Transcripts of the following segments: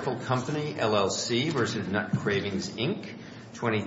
23-7540.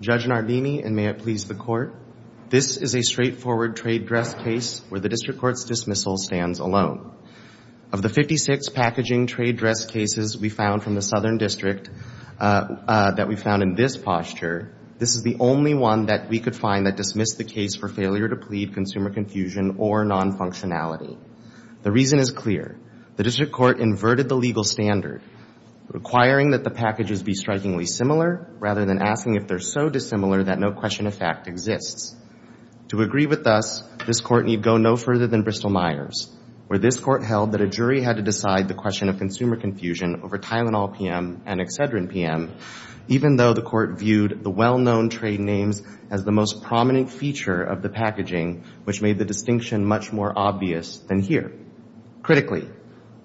Judge Nardini, and may it please the Court, this is a straightforward trade dress case where the District Court's dismissal stands alone. Of the 56 packaging trade dress cases we found from the Southern District that we found in this posture, this is the only one that we could find that dismissed the case for failure to plead consumer confusion or non-functionality. The reason is clear. The District Court inverted the legal standard, requiring that the packages be strikingly similar rather than asking if they're so dissimilar that no question of fact exists. To agree with us, this Court need go no further than Bristol-Myers, where this Court held that a jury had to decide the question of consumer confusion over Tylenol PM and Excedrin PM, even though the Court viewed the well-known trade names as the most prominent feature of the packaging, which made the distinction much more obvious than here. Critically,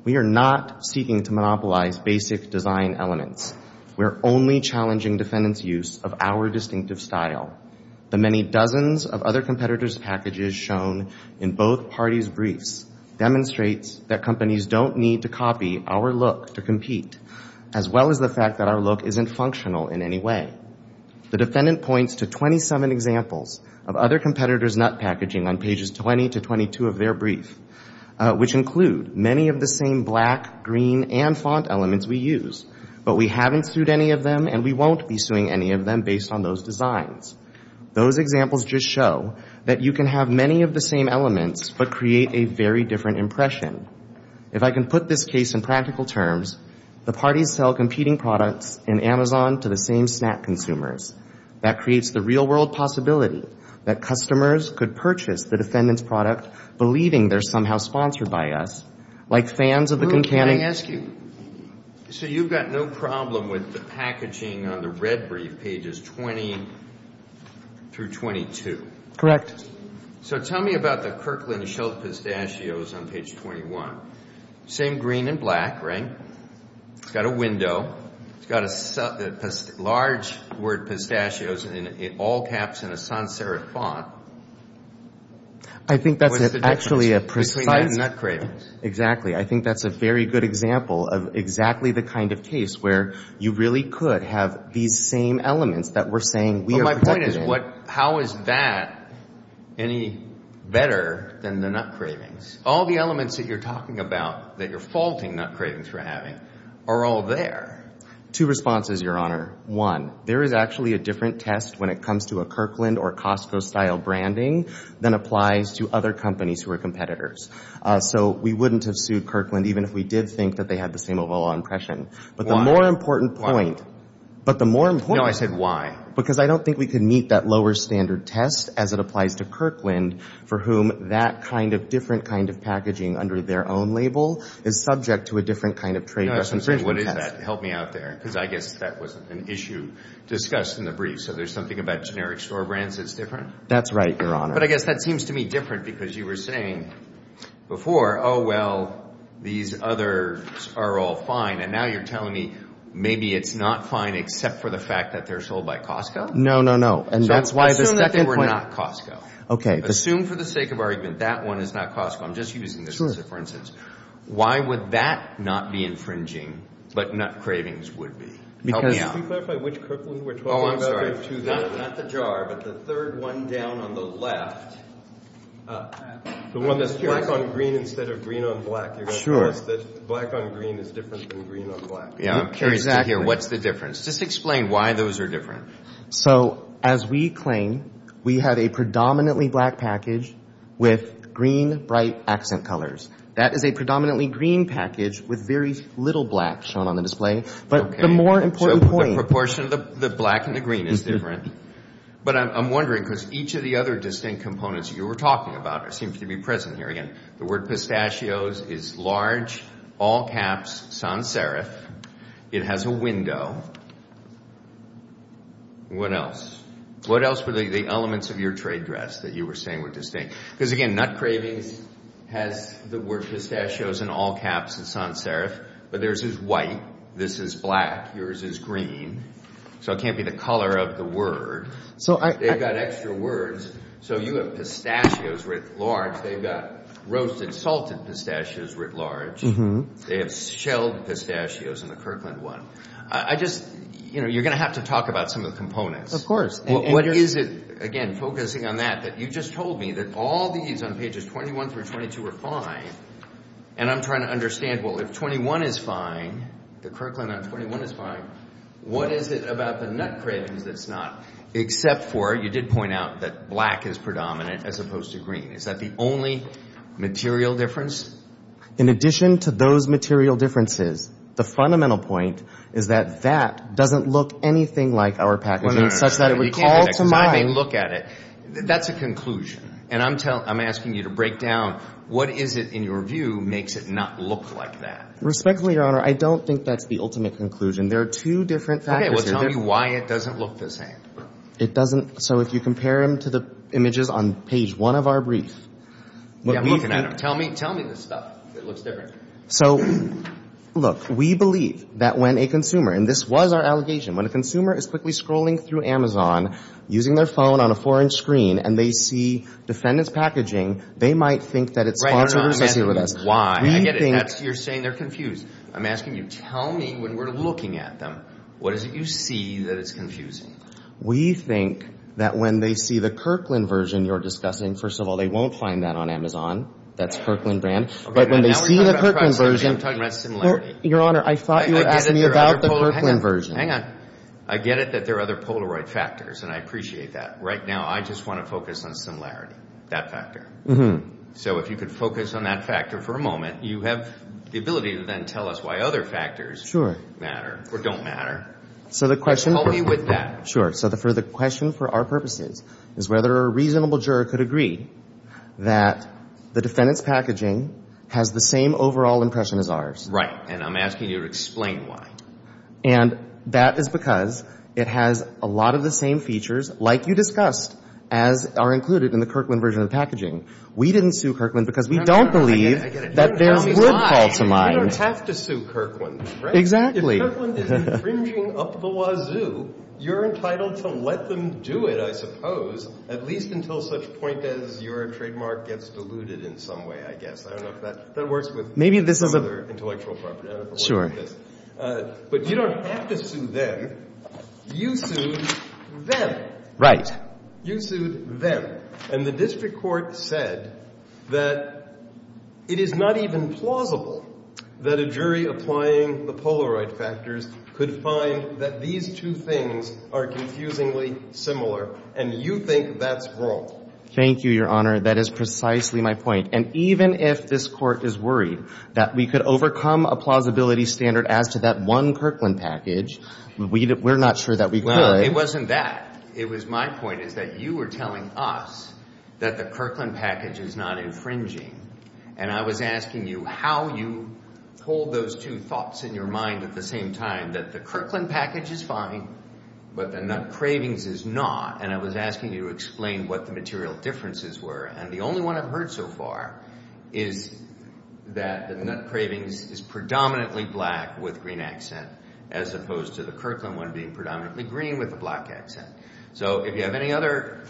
we are not seeking to monopolize basic design elements. We're only challenging defendants' use of our distinctive style. The many dozens of other competitors' packages shown in both parties' briefs demonstrates that companies don't need to copy our look to compete, as well as the fact that our look isn't functional in any way. The defendant points to 27 examples of other competitors' nut packaging on pages 20 to 22 of their brief, which include many of the same black, green, and font elements we use, but we haven't sued any of them and we won't be suing any of them based on those designs. Those examples just show that you can have many of the same elements, but create a very different impression. If I can put this case in practical terms, the parties sell competing products in Amazon to the same snack consumers. That creates the real-world possibility that customers could purchase the defendant's product, believing they're somehow sponsored by us, like fans of the concanning— Let me ask you, so you've got no problem with the packaging on the red brief, pages 20 through 22? Correct. So tell me about the Kirkland Schilt Pistachios on page 21. Same green and black, right? It's got a window. It's got a large word PISTACHIOS in all caps in a sans serif font. I think that's actually a precise— Between those nut cravings. Exactly. I think that's a very good example of exactly the kind of case where you really could have these same elements that we're saying we are protecting— But my point is, how is that any better than the nut cravings? All the elements that you're talking about, that you're faulting nut cravings for having, are all there. Two responses, Your Honor. One, there is actually a different test when it comes to a Kirkland or Costco-style branding than applies to other companies who are competitors. So we wouldn't have sued Kirkland even if we did think that they had the same overall impression. But the more important point— But the more important— No, I said why. Because I don't think we could meet that lower standard test as it applies to Kirkland, for whom that kind of different kind of packaging under their own label is subject to a different kind of trade— No, I'm saying what is that? Help me out there, because I guess that wasn't an issue discussed in the brief. So there's something about generic store brands that's different? That's right, Your Honor. But I guess that seems to me different, because you were saying before, oh, well, these others are all fine. And now you're telling me maybe it's not fine except for the fact that they're sold by Costco? No, no, no. And that's why the second point— Assume that they were not Costco. OK. Assume for the sake of argument that one is not Costco. I'm just using this for instance. Why would that not be infringing, but nut cravings would be? Help me out. Can you clarify which Kirkland we're talking about? Oh, I'm sorry. Not the jar, but the third one down on the left. The one that's black on green instead of green on black. You're going to tell us that black on green is different than green on black. Yeah, I'm curious to hear what's the difference. Just explain why those are different. So as we claim, we have a predominantly black package with green, bright accent colors. That is a predominantly green package with very little black shown on the display. But the more important point— Proportion of the black and the green is different. But I'm wondering, because each of the other distinct components you were talking about seems to be present here. Again, the word pistachios is large, all caps, sans serif. It has a window. What else? What else were the elements of your trade dress that you were saying were distinct? Because again, nut cravings has the word pistachios in all caps and sans serif. But theirs is white. This is black. Yours is green. So it can't be the color of the word. They've got extra words. So you have pistachios writ large. They've got roasted, salted pistachios writ large. They have shelled pistachios in the Kirkland one. You're going to have to talk about some of the components. Of course. What is it— Again, focusing on that, that you just told me that all these on pages 21 through 22 are fine. And I'm trying to understand, well, if 21 is fine, the Kirkland on 21 is fine, what is it about the nut cravings that's not? Except for you did point out that black is predominant as opposed to green. Is that the only material difference? In addition to those material differences, the fundamental point is that that doesn't look anything like our packaging, such that it would call to mind— They look at it. That's a conclusion. And I'm asking you to break down, what is it in your view makes it not look like that? Respectfully, Your Honor, I don't think that's the ultimate conclusion. There are two different factors. Okay, well, tell me why it doesn't look the same. It doesn't. So if you compare them to the images on page one of our brief— Yeah, I'm looking at them. Tell me this stuff. It looks different. So, look, we believe that when a consumer—and this was our allegation— when a consumer is quickly scrolling through Amazon using their phone on a four-inch screen and they see defendant's packaging, they might think that it's part of what's associated with us. Why? I get it. You're saying they're confused. I'm asking you, tell me when we're looking at them, what is it you see that is confusing? We think that when they see the Kirkland version you're discussing— First of all, they won't find that on Amazon. That's Kirkland brand. But when they see the Kirkland version— I'm talking about similarity. Your Honor, I thought you were asking me about the Kirkland version. Hang on. I get it that there are other Polaroid factors, and I appreciate that. Right now, I just want to focus on similarity, that factor. So if you could focus on that factor for a moment, you have the ability to then tell us why other factors matter or don't matter. So the question— Help me with that. Sure. So the question for our purposes is whether a reasonable juror could agree that the defendant's packaging has the same overall impression as ours. Right. And I'm asking you to explain why. And that is because it has a lot of the same features, like you discussed, as are included in the Kirkland version of packaging. We didn't sue Kirkland because we don't believe that there would fall to mine. You don't have to sue Kirkland, right? Exactly. If Kirkland is infringing up the wazoo, you're entitled to let them do it, I suppose, at least until such point as your trademark gets diluted in some way, I guess. I don't know if that— That works with— Maybe this is a— —intellectual property. Sure. But you don't have to sue them. You sued them. Right. You sued them. And the district court said that it is not even plausible that a jury applying the Polaroid factors could find that these two things are confusingly similar. And you think that's wrong. Thank you, Your Honor. That is precisely my point. And even if this court is worried that we could overcome a plausibility standard as to that one Kirkland package, we're not sure that we could. Well, it wasn't that. It was my point is that you were telling us that the Kirkland package is not infringing. And I was asking you how you hold those two thoughts in your mind at the same time, that the Kirkland package is fine, but the Nut Cravings is not. And I was asking you to explain what the material differences were. And the only one I've heard so far is that the Nut Cravings is predominantly black with green accent, as opposed to the Kirkland one being predominantly green with a black accent. So if you have any other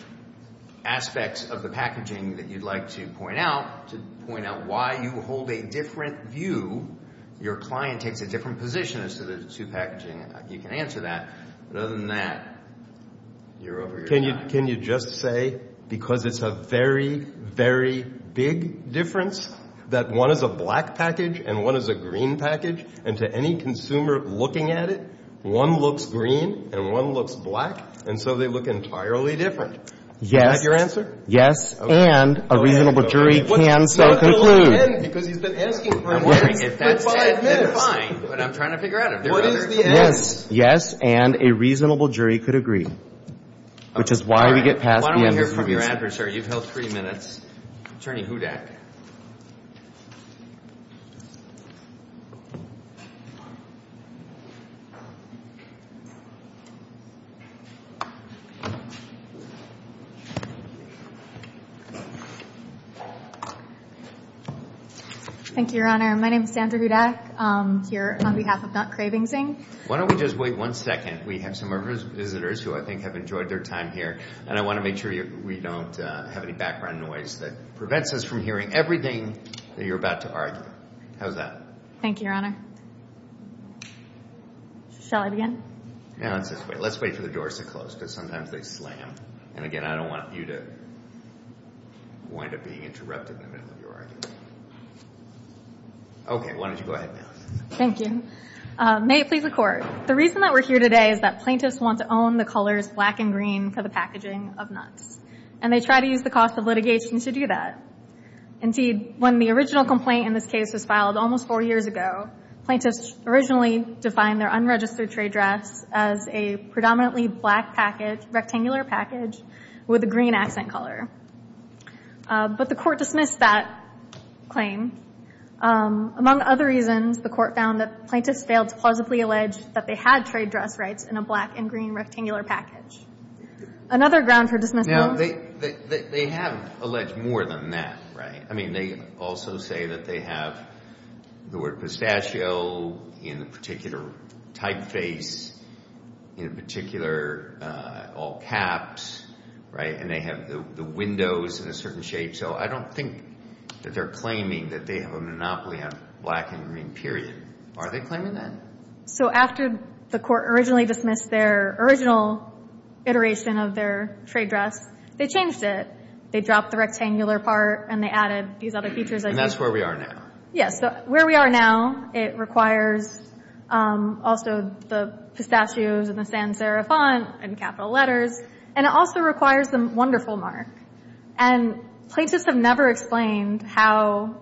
aspects of the packaging that you'd like to point out, to point out why you hold a different view, your client takes a different position as to the two packaging, you can answer that. But other than that, you're over your hat. Can you just say, because it's a very, very big difference, that one is a black package and one is a green package, and to any consumer looking at it, one looks green and one looks black, and so they look entirely different? Yes. Is that your answer? Yes. And a reasonable jury can so conclude. What's the line then? Because he's been asking for it for five minutes. I'm wondering if that's it, then fine. But I'm trying to figure out if there are other... Yes. Yes. And a reasonable jury could agree. Which is why we get past... Why don't we hear from your adversary? You've held three minutes. Attorney Hudak. Thank you, Your Honor. My name is Sandra Hudak. I'm here on behalf of Not Craving Zing. Why don't we just wait one second? We have some of our visitors who I think have enjoyed their time here, and I want to make sure we don't have any background noise that prevents us from hearing everything that you're about to argue. How's that? Thank you, Your Honor. Shall I begin? Yeah, let's just wait. Let's wait for the doors to close, because sometimes they slam. And again, I don't want you to wind up being interrupted in the middle of your argument. Okay, why don't you go ahead now? Thank you. May it please the Court. The reason that we're here today is that plaintiffs want to own the colors black and green for the packaging of nuts. And they try to use the cost of litigation to do that. Indeed, when the original complaint in this case was filed almost four years ago, plaintiffs originally defined their unregistered trade drafts as a predominantly black rectangular package with a green accent color. But the Court dismissed that claim. Among other reasons, the Court found that plaintiffs failed to plausibly allege that they had trade drafts rights in a black and green rectangular package. Another ground for dismissal? Now, they have alleged more than that, right? I mean, they also say that they have the word pistachio in a particular typeface, in particular, all caps, right? And they have the windows in a certain shape. So I don't think that they're claiming that they have a monopoly on black and green, period. Are they claiming that? So after the Court originally dismissed their original iteration of their trade drafts, they changed it. They dropped the rectangular part, and they added these other features. And that's where we are now. Yes. So where we are now, it requires also the pistachios and the sans serif font and capital letters. And it also requires the wonderful mark. And plaintiffs have never explained how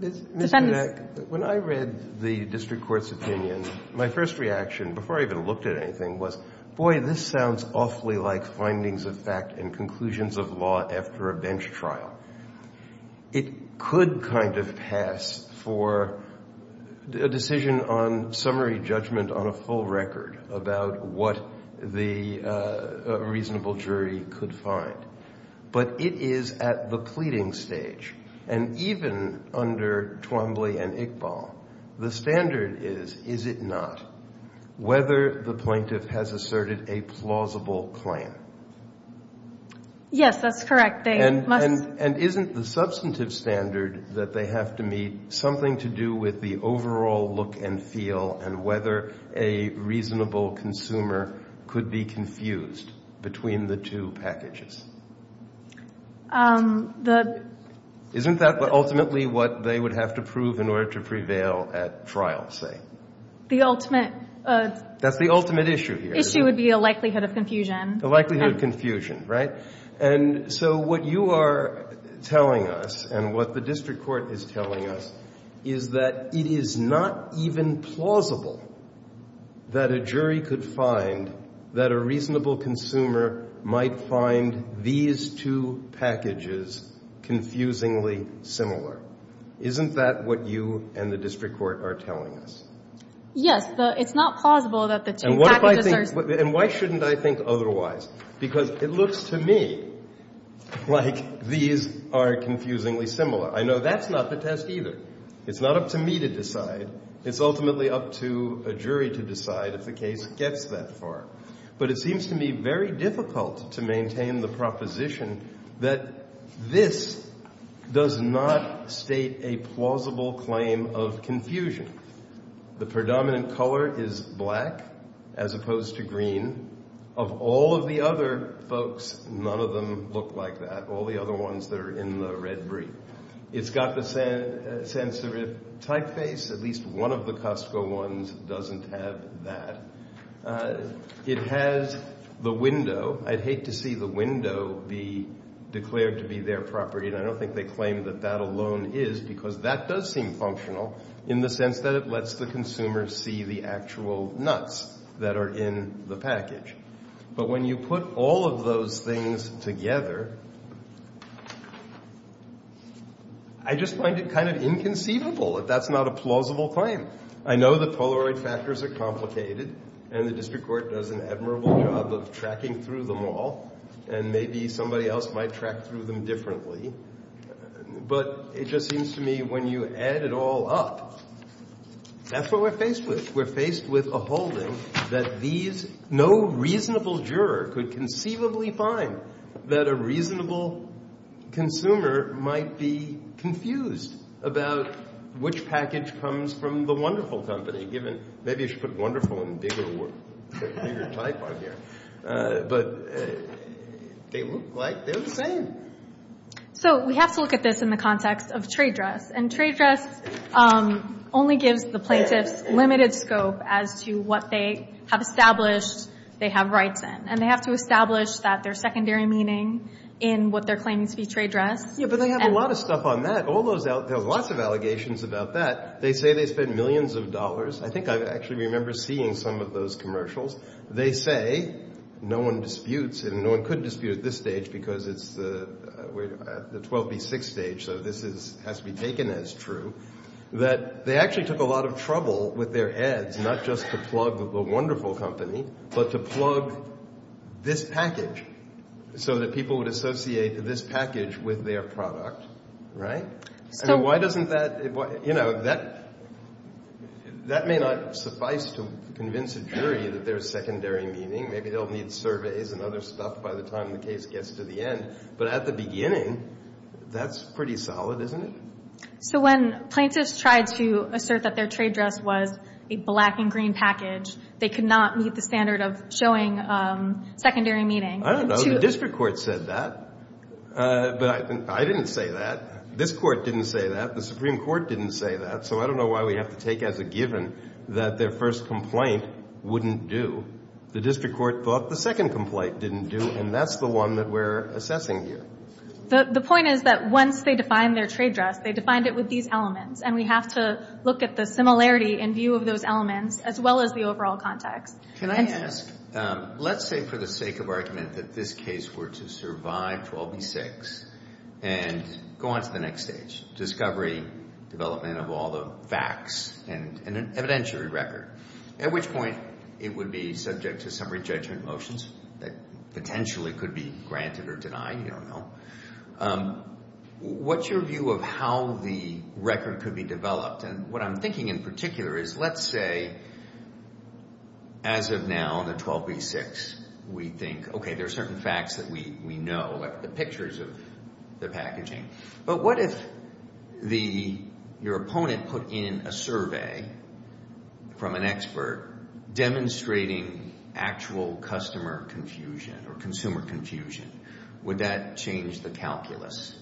defendants— Mr. Nenek, when I read the district court's opinion, my first reaction, before I even looked at anything, was, boy, this sounds awfully like findings of fact and conclusions of law after a bench trial. It could kind of pass for a decision on summary judgment on a full record about what the reasonable jury could find. But it is at the pleading stage. And even under Twombly and Iqbal, the standard is, is it not, whether the plaintiff has asserted a plausible claim. Yes, that's correct. They must— And isn't the substantive standard that they have to meet something to do with the overall look and feel and whether a reasonable consumer could be confused between the two packages? Isn't that ultimately what they would have to prove in order to prevail at trial, say? The ultimate— That's the ultimate issue here. —issue would be a likelihood of confusion. A likelihood of confusion, right? And so what you are telling us and what the district court is telling us is that it is not even plausible that a jury could find that a reasonable consumer might find the these two packages confusingly similar. Isn't that what you and the district court are telling us? Yes, it's not plausible that the two packages are— And why shouldn't I think otherwise? Because it looks to me like these are confusingly similar. I know that's not the test either. It's not up to me to decide. It's ultimately up to a jury to decide if the case gets that far. But it seems to me very difficult to maintain the proposition that this does not state a plausible claim of confusion. The predominant color is black as opposed to green. Of all of the other folks, none of them look like that, all the other ones that are in the red brief. It's got the sans serif typeface. At least one of the Costco ones doesn't have that. It has the window. I'd hate to see the window be declared to be their property, and I don't think they claim that that alone is because that does seem functional in the sense that it lets the consumer see the actual nuts that are in the package. But when you put all of those things together, I just find it kind of inconceivable that that's not a plausible claim. I know the Polaroid factors are complicated, and the district court does an admirable job of tracking through them all, and maybe somebody else might track through them differently. But it just seems to me when you add it all up, that's what we're faced with. We're faced with a holding that these no reasonable juror could conceivably find that a reasonable consumer might be confused about which package comes from the wonderful company, given maybe you should put wonderful in a bigger type on here. But they look like they're the same. So we have to look at this in the context of trade dress, and trade dress only gives the plaintiffs limited scope as to what they have established they have rights in. And they have to establish that there's secondary meaning in what they're claiming to be trade dress. Yeah, but they have a lot of stuff on that. All those, there's lots of allegations about that. They say they spend millions of dollars. I think I actually remember seeing some of those commercials. They say, no one disputes, and no one could dispute at this stage because it's the 12B6 stage, so this has to be taken as true, that they actually took a lot of trouble with their ads, not just to plug the wonderful company, but to plug this package so that people would associate this package with their product, right? So why doesn't that, you know, that may not suffice to convince a jury that there's secondary meaning. Maybe they'll need surveys and other stuff by the time the case gets to the end. But at the beginning, that's pretty solid, isn't it? So when plaintiffs tried to assert that their trade dress was a black and green package, they could not meet the standard of showing secondary meaning. I don't know. The district court said that. But I didn't say that. This court didn't say that. The Supreme Court didn't say that. So I don't know why we have to take as a given that their first complaint wouldn't do. The district court thought the second complaint didn't do, and that's the one that we're assessing here. The point is that once they define their trade dress, they defined it with these elements. And we have to look at the similarity in view of those elements, as well as the overall context. Can I ask, let's say for the sake of argument that this case were to survive 12 v. 6 and go on to the next stage, discovery, development of all the facts and an evidentiary record, at which point it would be subject to summary judgment motions that potentially could be granted or denied. You don't know. What's your view of how the record could be developed? And what I'm thinking in particular is, let's say as of now in the 12 v. 6, we think, okay, there are certain facts that we know, like the pictures of the packaging. But what if your opponent put in a survey from an expert demonstrating actual customer confusion or consumer confusion? Would that change the calculus?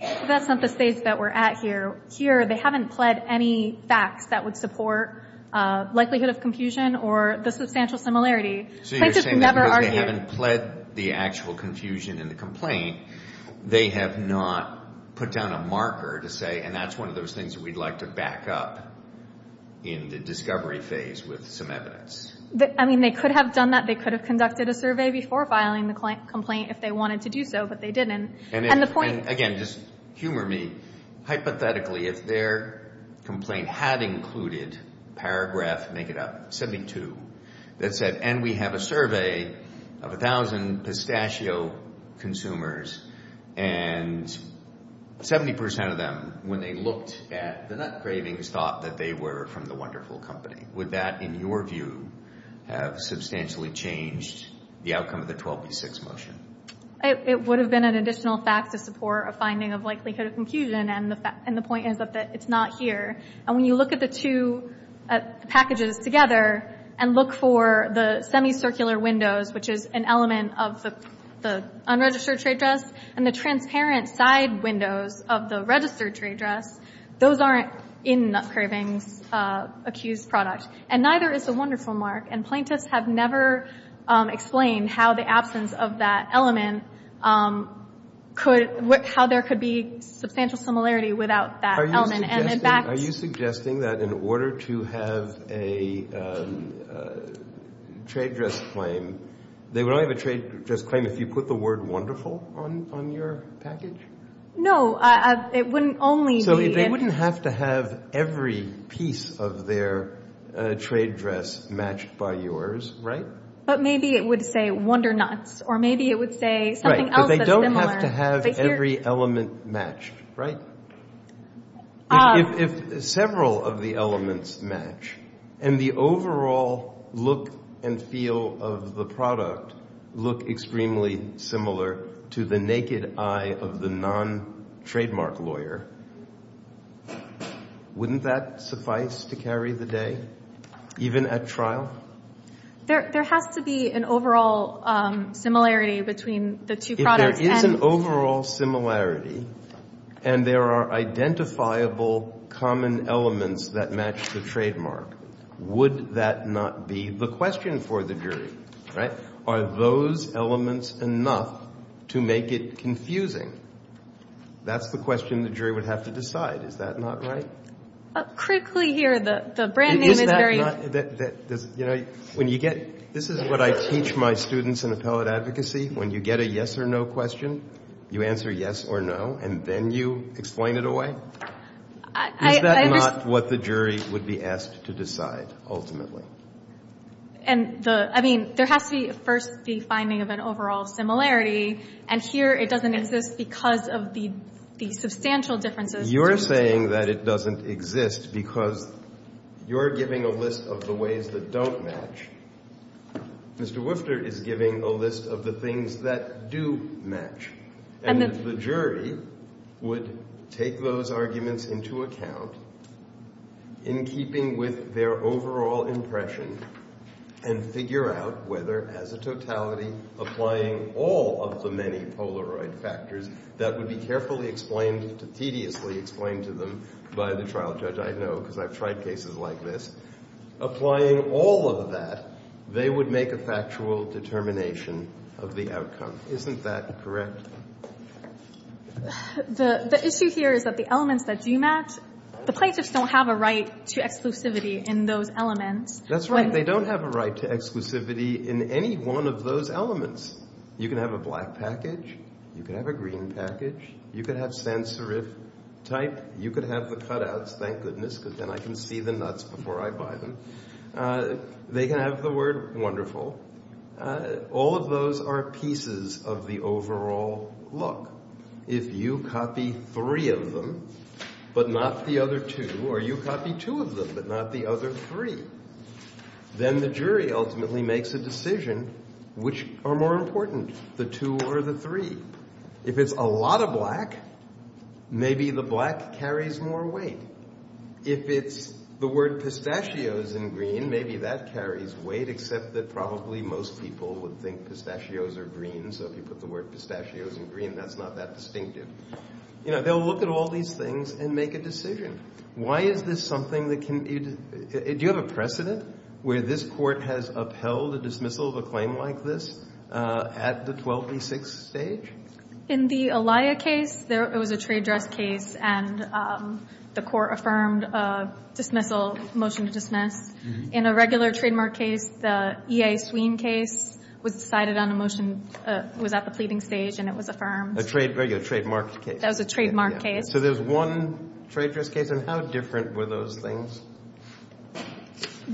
That's not the stage that we're at here. Here, they haven't pled any facts that would support likelihood of confusion or the substantial similarity. So you're saying that because they haven't pled the actual confusion in the complaint, they have not put down a marker to say, and that's one of those things that we'd like to back up in the discovery phase with some evidence. I mean, they could have done that. They could have conducted a survey before filing the complaint if they wanted to do so, but they didn't. And the point— Again, just humor me. Hypothetically, if their complaint had included paragraph, make it up, 72, that said, and we have a survey of 1,000 pistachio consumers, and 70 percent of them, when they looked at the nut cravings, thought that they were from the wonderful company. Would that, in your view, have substantially changed the outcome of the 12B6 motion? It would have been an additional fact to support a finding of likelihood of confusion, and the point is that it's not here. And when you look at the two packages together and look for the semicircular windows, which is an element of the unregistered trade dress, and the transparent side windows of the registered trade dress, those aren't in Nut Cravings' accused product, and neither is the wonderful mark, and plaintiffs have never explained how the absence of that element could—how there could be substantial similarity without that element, and in fact— Are you suggesting that in order to have a trade dress claim, they would only have a trade dress claim if you put the word wonderful on your package? No, it wouldn't only be— So they wouldn't have to have every piece of their trade dress matched by yours, right? But maybe it would say Wonder Nuts, or maybe it would say something else that's similar. Right, but they don't have to have every element matched, right? If several of the elements match, and the overall look and feel of the product look extremely similar to the naked eye of the non-trademark lawyer, wouldn't that suffice to carry the day, even at trial? There has to be an overall similarity between the two products, and— If there is an overall similarity, and there are identifiable common elements that match the trademark, would that not be the question for the jury, right? Are those elements enough to make it confusing? That's the question the jury would have to decide. Is that not right? Critically here, the brand name is very— Is that not—you know, when you get—this is what I teach my students in appellate advocacy. When you get a yes or no question, you answer yes or no, and then you explain it away. Is that not what the jury would be asked to decide, ultimately? And the—I mean, there has to be, first, the finding of an overall similarity, and here it doesn't exist because of the substantial differences— You're saying that it doesn't exist because you're giving a list of the ways that don't match. Mr. Wifter is giving a list of the things that do match. And the jury would take those arguments into account in keeping with their overall impression and figure out whether, as a totality, applying all of the many Polaroid factors that would be carefully explained, tediously explained to them by the trial judge—I know because I've tried cases like this—applying all of that, they would make a factual determination of the outcome. Isn't that correct? The issue here is that the elements that do match—the plaintiffs don't have a right to exclusivity in those elements. That's right. They don't have a right to exclusivity in any one of those elements. You can have a black package. You can have a green package. You could have sans-serif type. You could have the cutouts, thank goodness, because then I can see the nuts before I buy them. They can have the word wonderful. All of those are pieces of the overall look. If you copy three of them but not the other two, or you copy two of them but not the other three, then the jury ultimately makes a decision which are more important, the two or the three. If it's a lot of black, maybe the black carries more weight. If it's the word pistachios in green, maybe that carries weight except that probably most people would think pistachios are green. So if you put the word pistachios in green, that's not that distinctive. You know, they'll look at all these things and make a decision. Why is this something that can—do you have a precedent where this court has upheld a dismissal of a claim like this at the 1236 stage? In the Alaia case, it was a trade dress case, and the court affirmed a dismissal, motion to dismiss. In a regular trademark case, the E.A. Sweene case was decided on a motion, was at the pleading stage, and it was affirmed. A trade, regular trademark case. That was a trademark case. So there's one trade dress case, and how different were those things?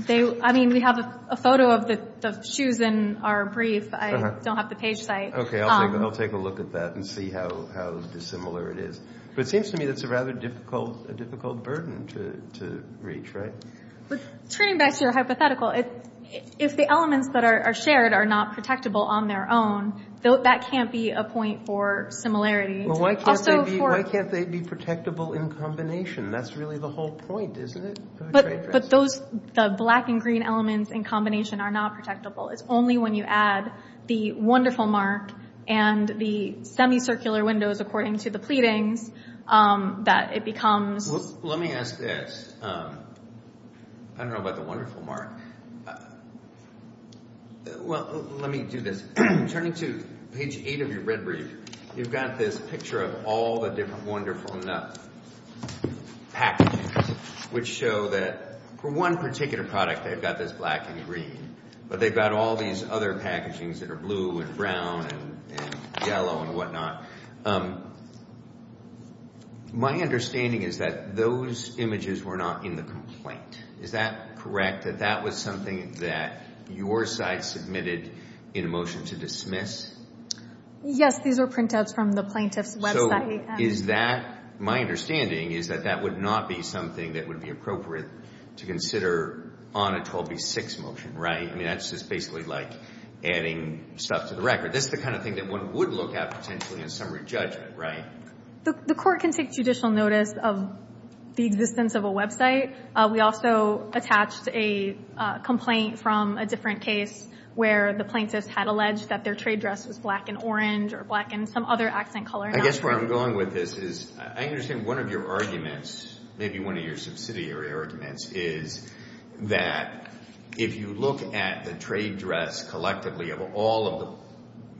I mean, we have a photo of the shoes in our brief. I don't have the page site. Okay, I'll take a look at that and see how dissimilar it is. But it seems to me that's a rather difficult burden to reach, right? Turning back to your hypothetical, if the elements that are shared are not protectable on their own, that can't be a point for similarity. Why can't they be protectable in combination? That's really the whole point, isn't it? But those—the black and green elements in combination are not protectable. It's only when you add the wonderful mark and the semicircular windows, according to the pleadings, that it becomes— Well, let me ask this. I don't know about the wonderful mark. Well, let me do this. Turning to page 8 of your red brief, you've got this picture of all the different wonderful packages, which show that for one particular product, they've got this black and green. But they've got all these other packagings that are blue and brown and yellow and whatnot. My understanding is that those images were not in the complaint. Is that correct? That that was something that your site submitted in a motion to dismiss? Yes, these are printouts from the plaintiff's website. So is that—my understanding is that that would not be something that would be appropriate to consider on a 12B6 motion, right? I mean, that's just basically like adding stuff to the record. That's the kind of thing that one would look at potentially in summary judgment, right? The Court can take judicial notice of the existence of a website. We also attached a complaint from a different case where the plaintiff had alleged that their trade dress was black and orange or black and some other accent color. I guess where I'm going with this is I understand one of your arguments, maybe one of your subsidiary arguments, is that if you look at the trade dress collectively of all of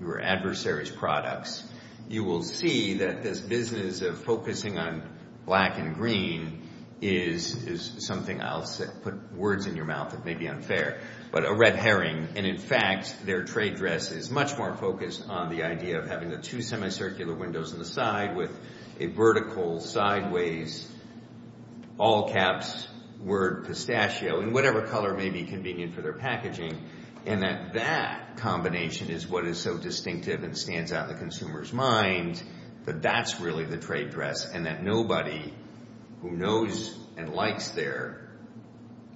your adversaries' products, you will see that this business of focusing on black and green is something—I'll put words in your mouth that may be unfair—but a red herring. And in fact, their trade dress is much more focused on the idea of having the two circular windows on the side with a vertical, sideways, all caps, word pistachio, in whatever color may be convenient for their packaging, and that that combination is what is so distinctive and stands out in the consumer's mind that that's really the trade dress and that nobody who knows and likes their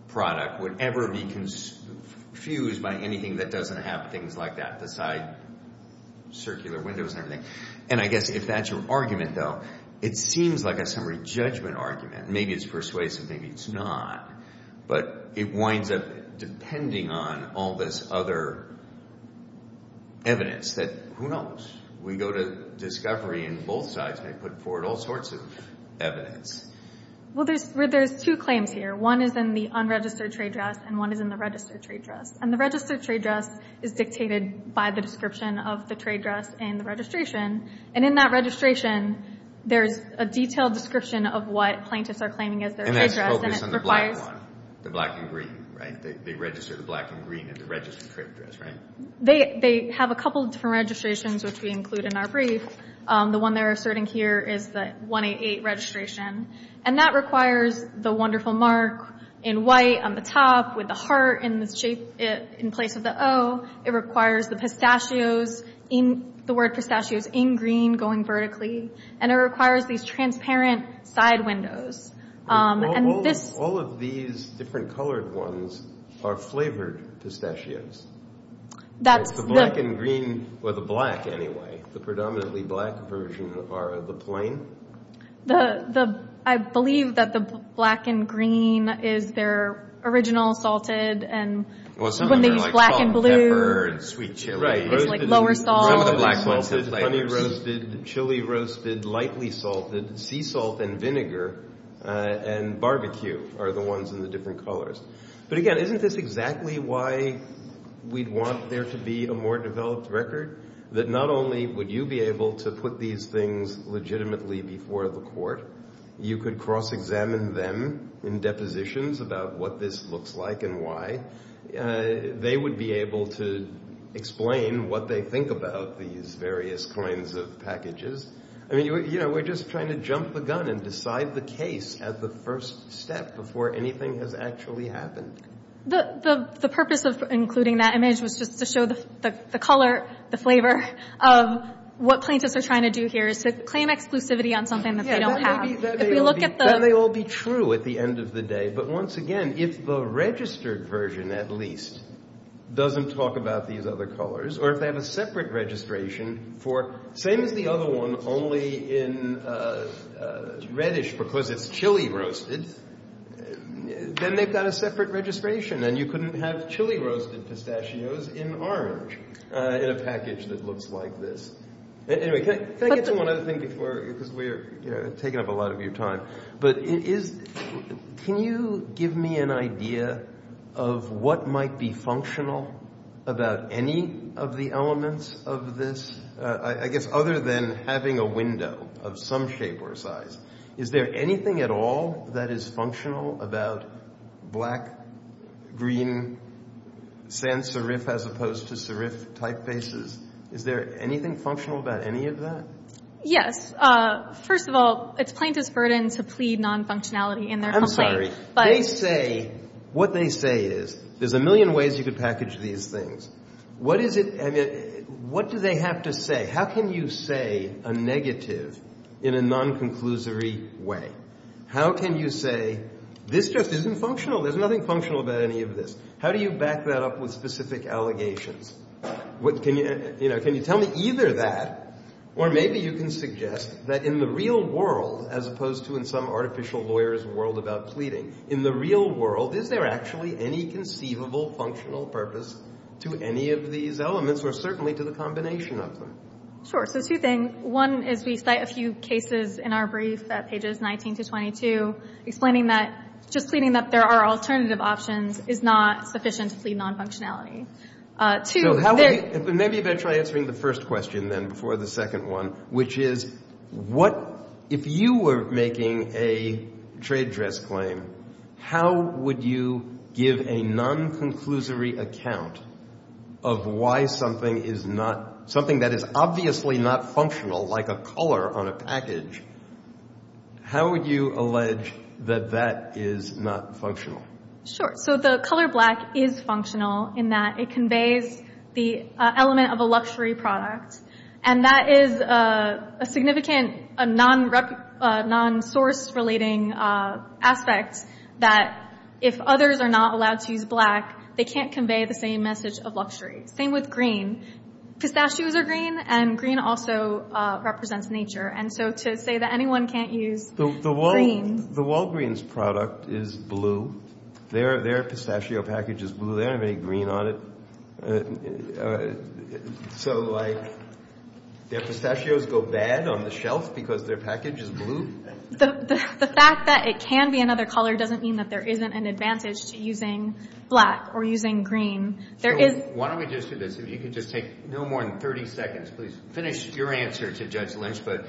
product would ever be confused by anything that doesn't have the side circular windows and everything. And I guess if that's your argument, though, it seems like a summary judgment argument. Maybe it's persuasive. Maybe it's not. But it winds up depending on all this other evidence that, who knows? We go to discovery and both sides may put forward all sorts of evidence. Well, there's two claims here. One is in the unregistered trade dress, and one is in the registered trade dress. And the registered trade dress is dictated by the description of the trade dress in the And in that registration, there's a detailed description of what plaintiffs are claiming as their trade dress. And that's focused on the black one, the black and green, right? They register the black and green at the registered trade dress, right? They have a couple of different registrations, which we include in our brief. The one they're asserting here is the 188 registration. And that requires the wonderful mark in white on the top with the heart in place of the O. It requires the pistachios, the word pistachios, in green going vertically. And it requires these transparent side windows. And all of these different colored ones are flavored pistachios. That's the black and green, or the black anyway. The predominantly black version are the plain. The, I believe that the black and green is their original salted. And when they use black and blue, it's like lower salt. Some of the black ones have flavors. Honey roasted, chili roasted, lightly salted, sea salt and vinegar, and barbecue are the ones in the different colors. But again, isn't this exactly why we'd want there to be a more developed record? That not only would you be able to put these things legitimately before the court, you could cross-examine them in depositions about what this looks like and why. They would be able to explain what they think about these various kinds of packages. I mean, you know, we're just trying to jump the gun and decide the case at the first step before anything has actually happened. The purpose of including that image was just to show the color, the flavor of what plaintiffs are trying to do here, is to claim exclusivity on something that they don't have. Yeah, that may all be true at the end of the day. But once again, if the registered version, at least, doesn't talk about these other colors, or if they have a separate registration for, same as the other one, only in reddish because it's chili roasted, then they've got a separate registration, and you couldn't have chili roasted pistachios in orange in a package that looks like this. Anyway, can I get to one other thing before, because we're taking up a lot of your time, but can you give me an idea of what might be functional about any of the elements of this? I guess other than having a window of some shape or size, is there anything at all that is functional about black, green, sans serif as opposed to serif typefaces? Is there anything functional about any of that? Yes. First of all, it's plaintiff's burden to plead non-functionality in their complaint. I'm sorry. But they say, what they say is, there's a million ways you could package these things. What is it, I mean, what do they have to say? How can you say a negative in a non-conclusory way? How can you say, this just isn't functional? There's nothing functional about any of this. How do you back that up with specific allegations? Can you tell me either that, or maybe you can suggest that in the real world, as opposed to in some artificial lawyer's world about pleading, in the real world, is there actually any conceivable functional purpose to any of these elements, or certainly to the combination of them? Sure. So two things. One is, we cite a few cases in our brief at pages 19 to 22, explaining that just pleading that there are alternative options is not sufficient to plead non-functionality. Two, how would you... Maybe you better try answering the first question, then, before the second one, which is, what, if you were making a trade dress claim, how would you give a non-conclusory account of why something is not, something that is obviously not functional, like a color on a package, how would you allege that that is not functional? Sure. So the color black is functional in that it conveys the element of a luxury product, and that is a significant non-source-relating aspect, that if others are not allowed to use black, they can't convey the same message of luxury. Same with green. Pistachios are green, and green also represents nature. And so to say that anyone can't use green... The Walgreens product is blue. Their pistachio package is blue. They don't have any green on it. So, like, their pistachios go bad on the shelf because their package is blue? The fact that it can be another color doesn't mean that there isn't an advantage to using black or using green. Why don't we just do this? If you could just take no more than 30 seconds, please finish your answer to Judge Lynch, but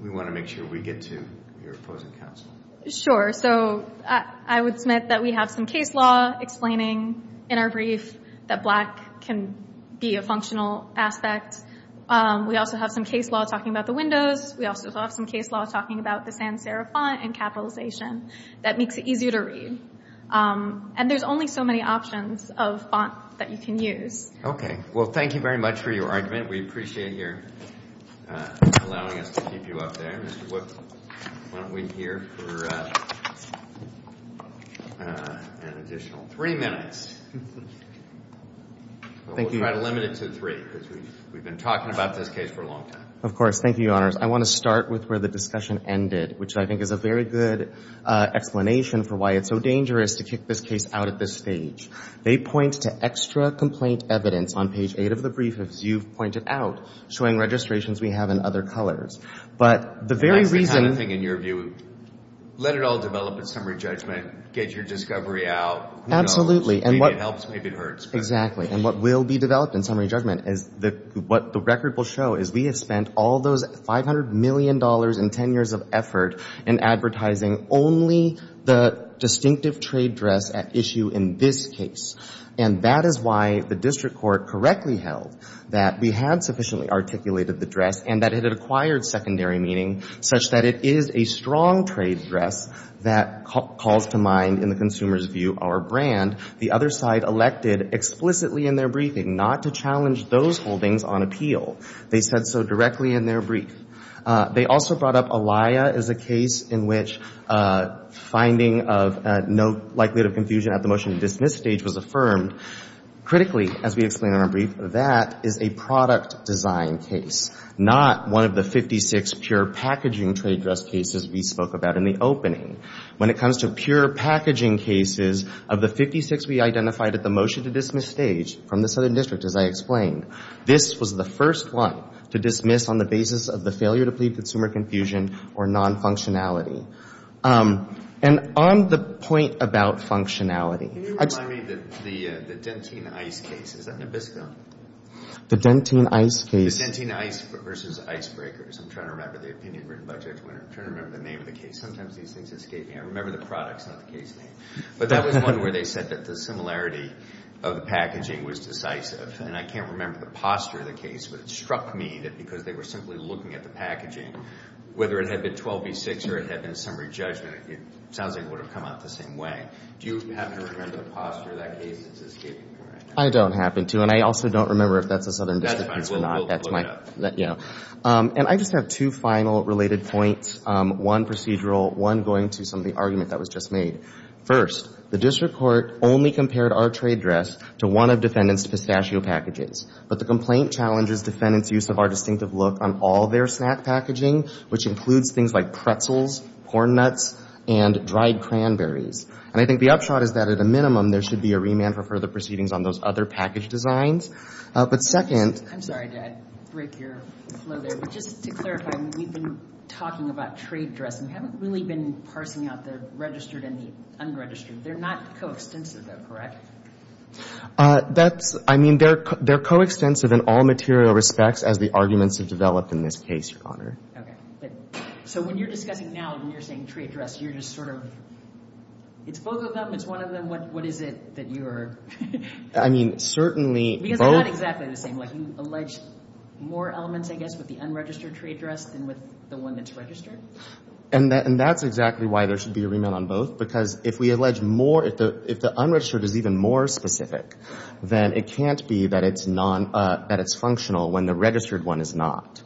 we want to make sure we get to your opposing counsel. Sure. So I would submit that we have some case law explaining in our brief that black can be a functional aspect. We also have some case law talking about the windows. We also have some case law talking about the sans-serif font and capitalization that makes it easier to read. And there's only so many options of font that you can use. Well, thank you very much for your argument. We appreciate your allowing us to keep you up there. Why don't we hear for an additional three minutes? Thank you. We'll try to limit it to three, because we've been talking about this case for a long time. Of course. Thank you, Your Honors. I want to start with where the discussion ended, which I think is a very good explanation for why it's so dangerous to kick this case out at this stage. They point to extra complaint evidence on page eight of the brief, as you've pointed out, showing registrations we have in other colors. But the very reason... That's the kind of thing, in your view, let it all develop in summary judgment, get your discovery out. Absolutely. Maybe it helps, maybe it hurts. Exactly. And what will be developed in summary judgment is what the record will show is we have spent all those $500 million in 10 years of effort in advertising only the distinctive trade dress at issue in this case. And that is why the district court correctly held that we had sufficiently articulated the dress and that it had acquired secondary meaning such that it is a strong trade dress that calls to mind, in the consumer's view, our brand. The other side elected explicitly in their briefing not to challenge those holdings on appeal. They said so directly in their brief. They also brought up Alaia as a case in which finding of no likelihood of confusion at the motion to dismiss stage was affirmed. Critically, as we explained in our brief, that is a product design case, not one of the 56 pure packaging trade dress cases we spoke about in the opening. When it comes to pure packaging cases, of the 56 we identified at the motion to dismiss stage from the Southern District, as I explained, this was the first one to dismiss on the basis of the failure to plead consumer confusion or non-functionality. And on the point about functionality... Can you remind me of the Dentine Ice case? Is that Nabisco? The Dentine Ice case. The Dentine Ice versus Ice Breakers. I'm trying to remember the opinion written by Judge Winter. I'm trying to remember the name of the case. Sometimes these things escape me. I remember the products, not the case name. But that was one where they said that the similarity of the packaging was decisive. And I can't remember the posture of the case, but it struck me that because they were simply looking at the packaging, whether it had been 12 v. 6 or it had been summary judgment, it sounds like it would have come out the same way. Do you happen to remember the posture of that case? It's escaping me right now. I don't happen to. And I also don't remember if that's a Southern District case or not. That's my... And I just have two final related points. One procedural, one going to some of the argument that was just made. First, the District Court only compared our trade dress to one of defendant's pistachio packages. But the complaint challenges defendant's use of our distinctive look on all their snack packaging, which includes things like pretzels, corn nuts, and dried cranberries. And I think the upshot is that at a minimum, there should be a remand for further proceedings on those other package designs. But second... I'm sorry to break your flow there, but just to clarify, we've been talking about trade dress and we haven't really been parsing out the registered and the unregistered. They're not coextensive though, correct? That's... I mean, they're coextensive in all material respects as the arguments have developed in this case, Your Honor. Okay. So when you're discussing now, when you're saying trade dress, you're just sort of... It's both of them. It's one of them. What is it that you're... I mean, certainly... Because they're not exactly the same. Like you allege more elements, I guess, with the unregistered trade dress than with the one that's registered. And that's exactly why there should be a remand on both. Because if we allege more, if the unregistered is even more specific, then it can't be that it's functional when the registered one is not.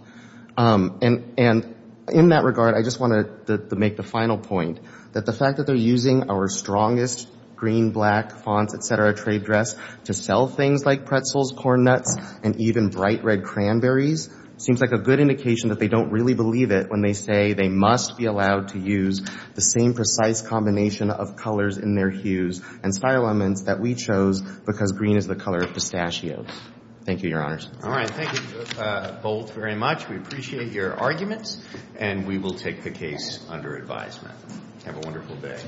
And in that regard, I just want to make the final point that the fact that they're using our strongest green, black, fonts, et cetera, trade dress to sell things like pretzels, corn nuts, and even bright red cranberries seems like a good indication that they don't really believe it when they say they must be allowed to use the same precise combination of colors in their hues and style elements that we chose because green is the color of pistachios. Thank you, Your Honors. All right. Thank you both very much. We appreciate your arguments and we will take the case under advisement. Have a wonderful day.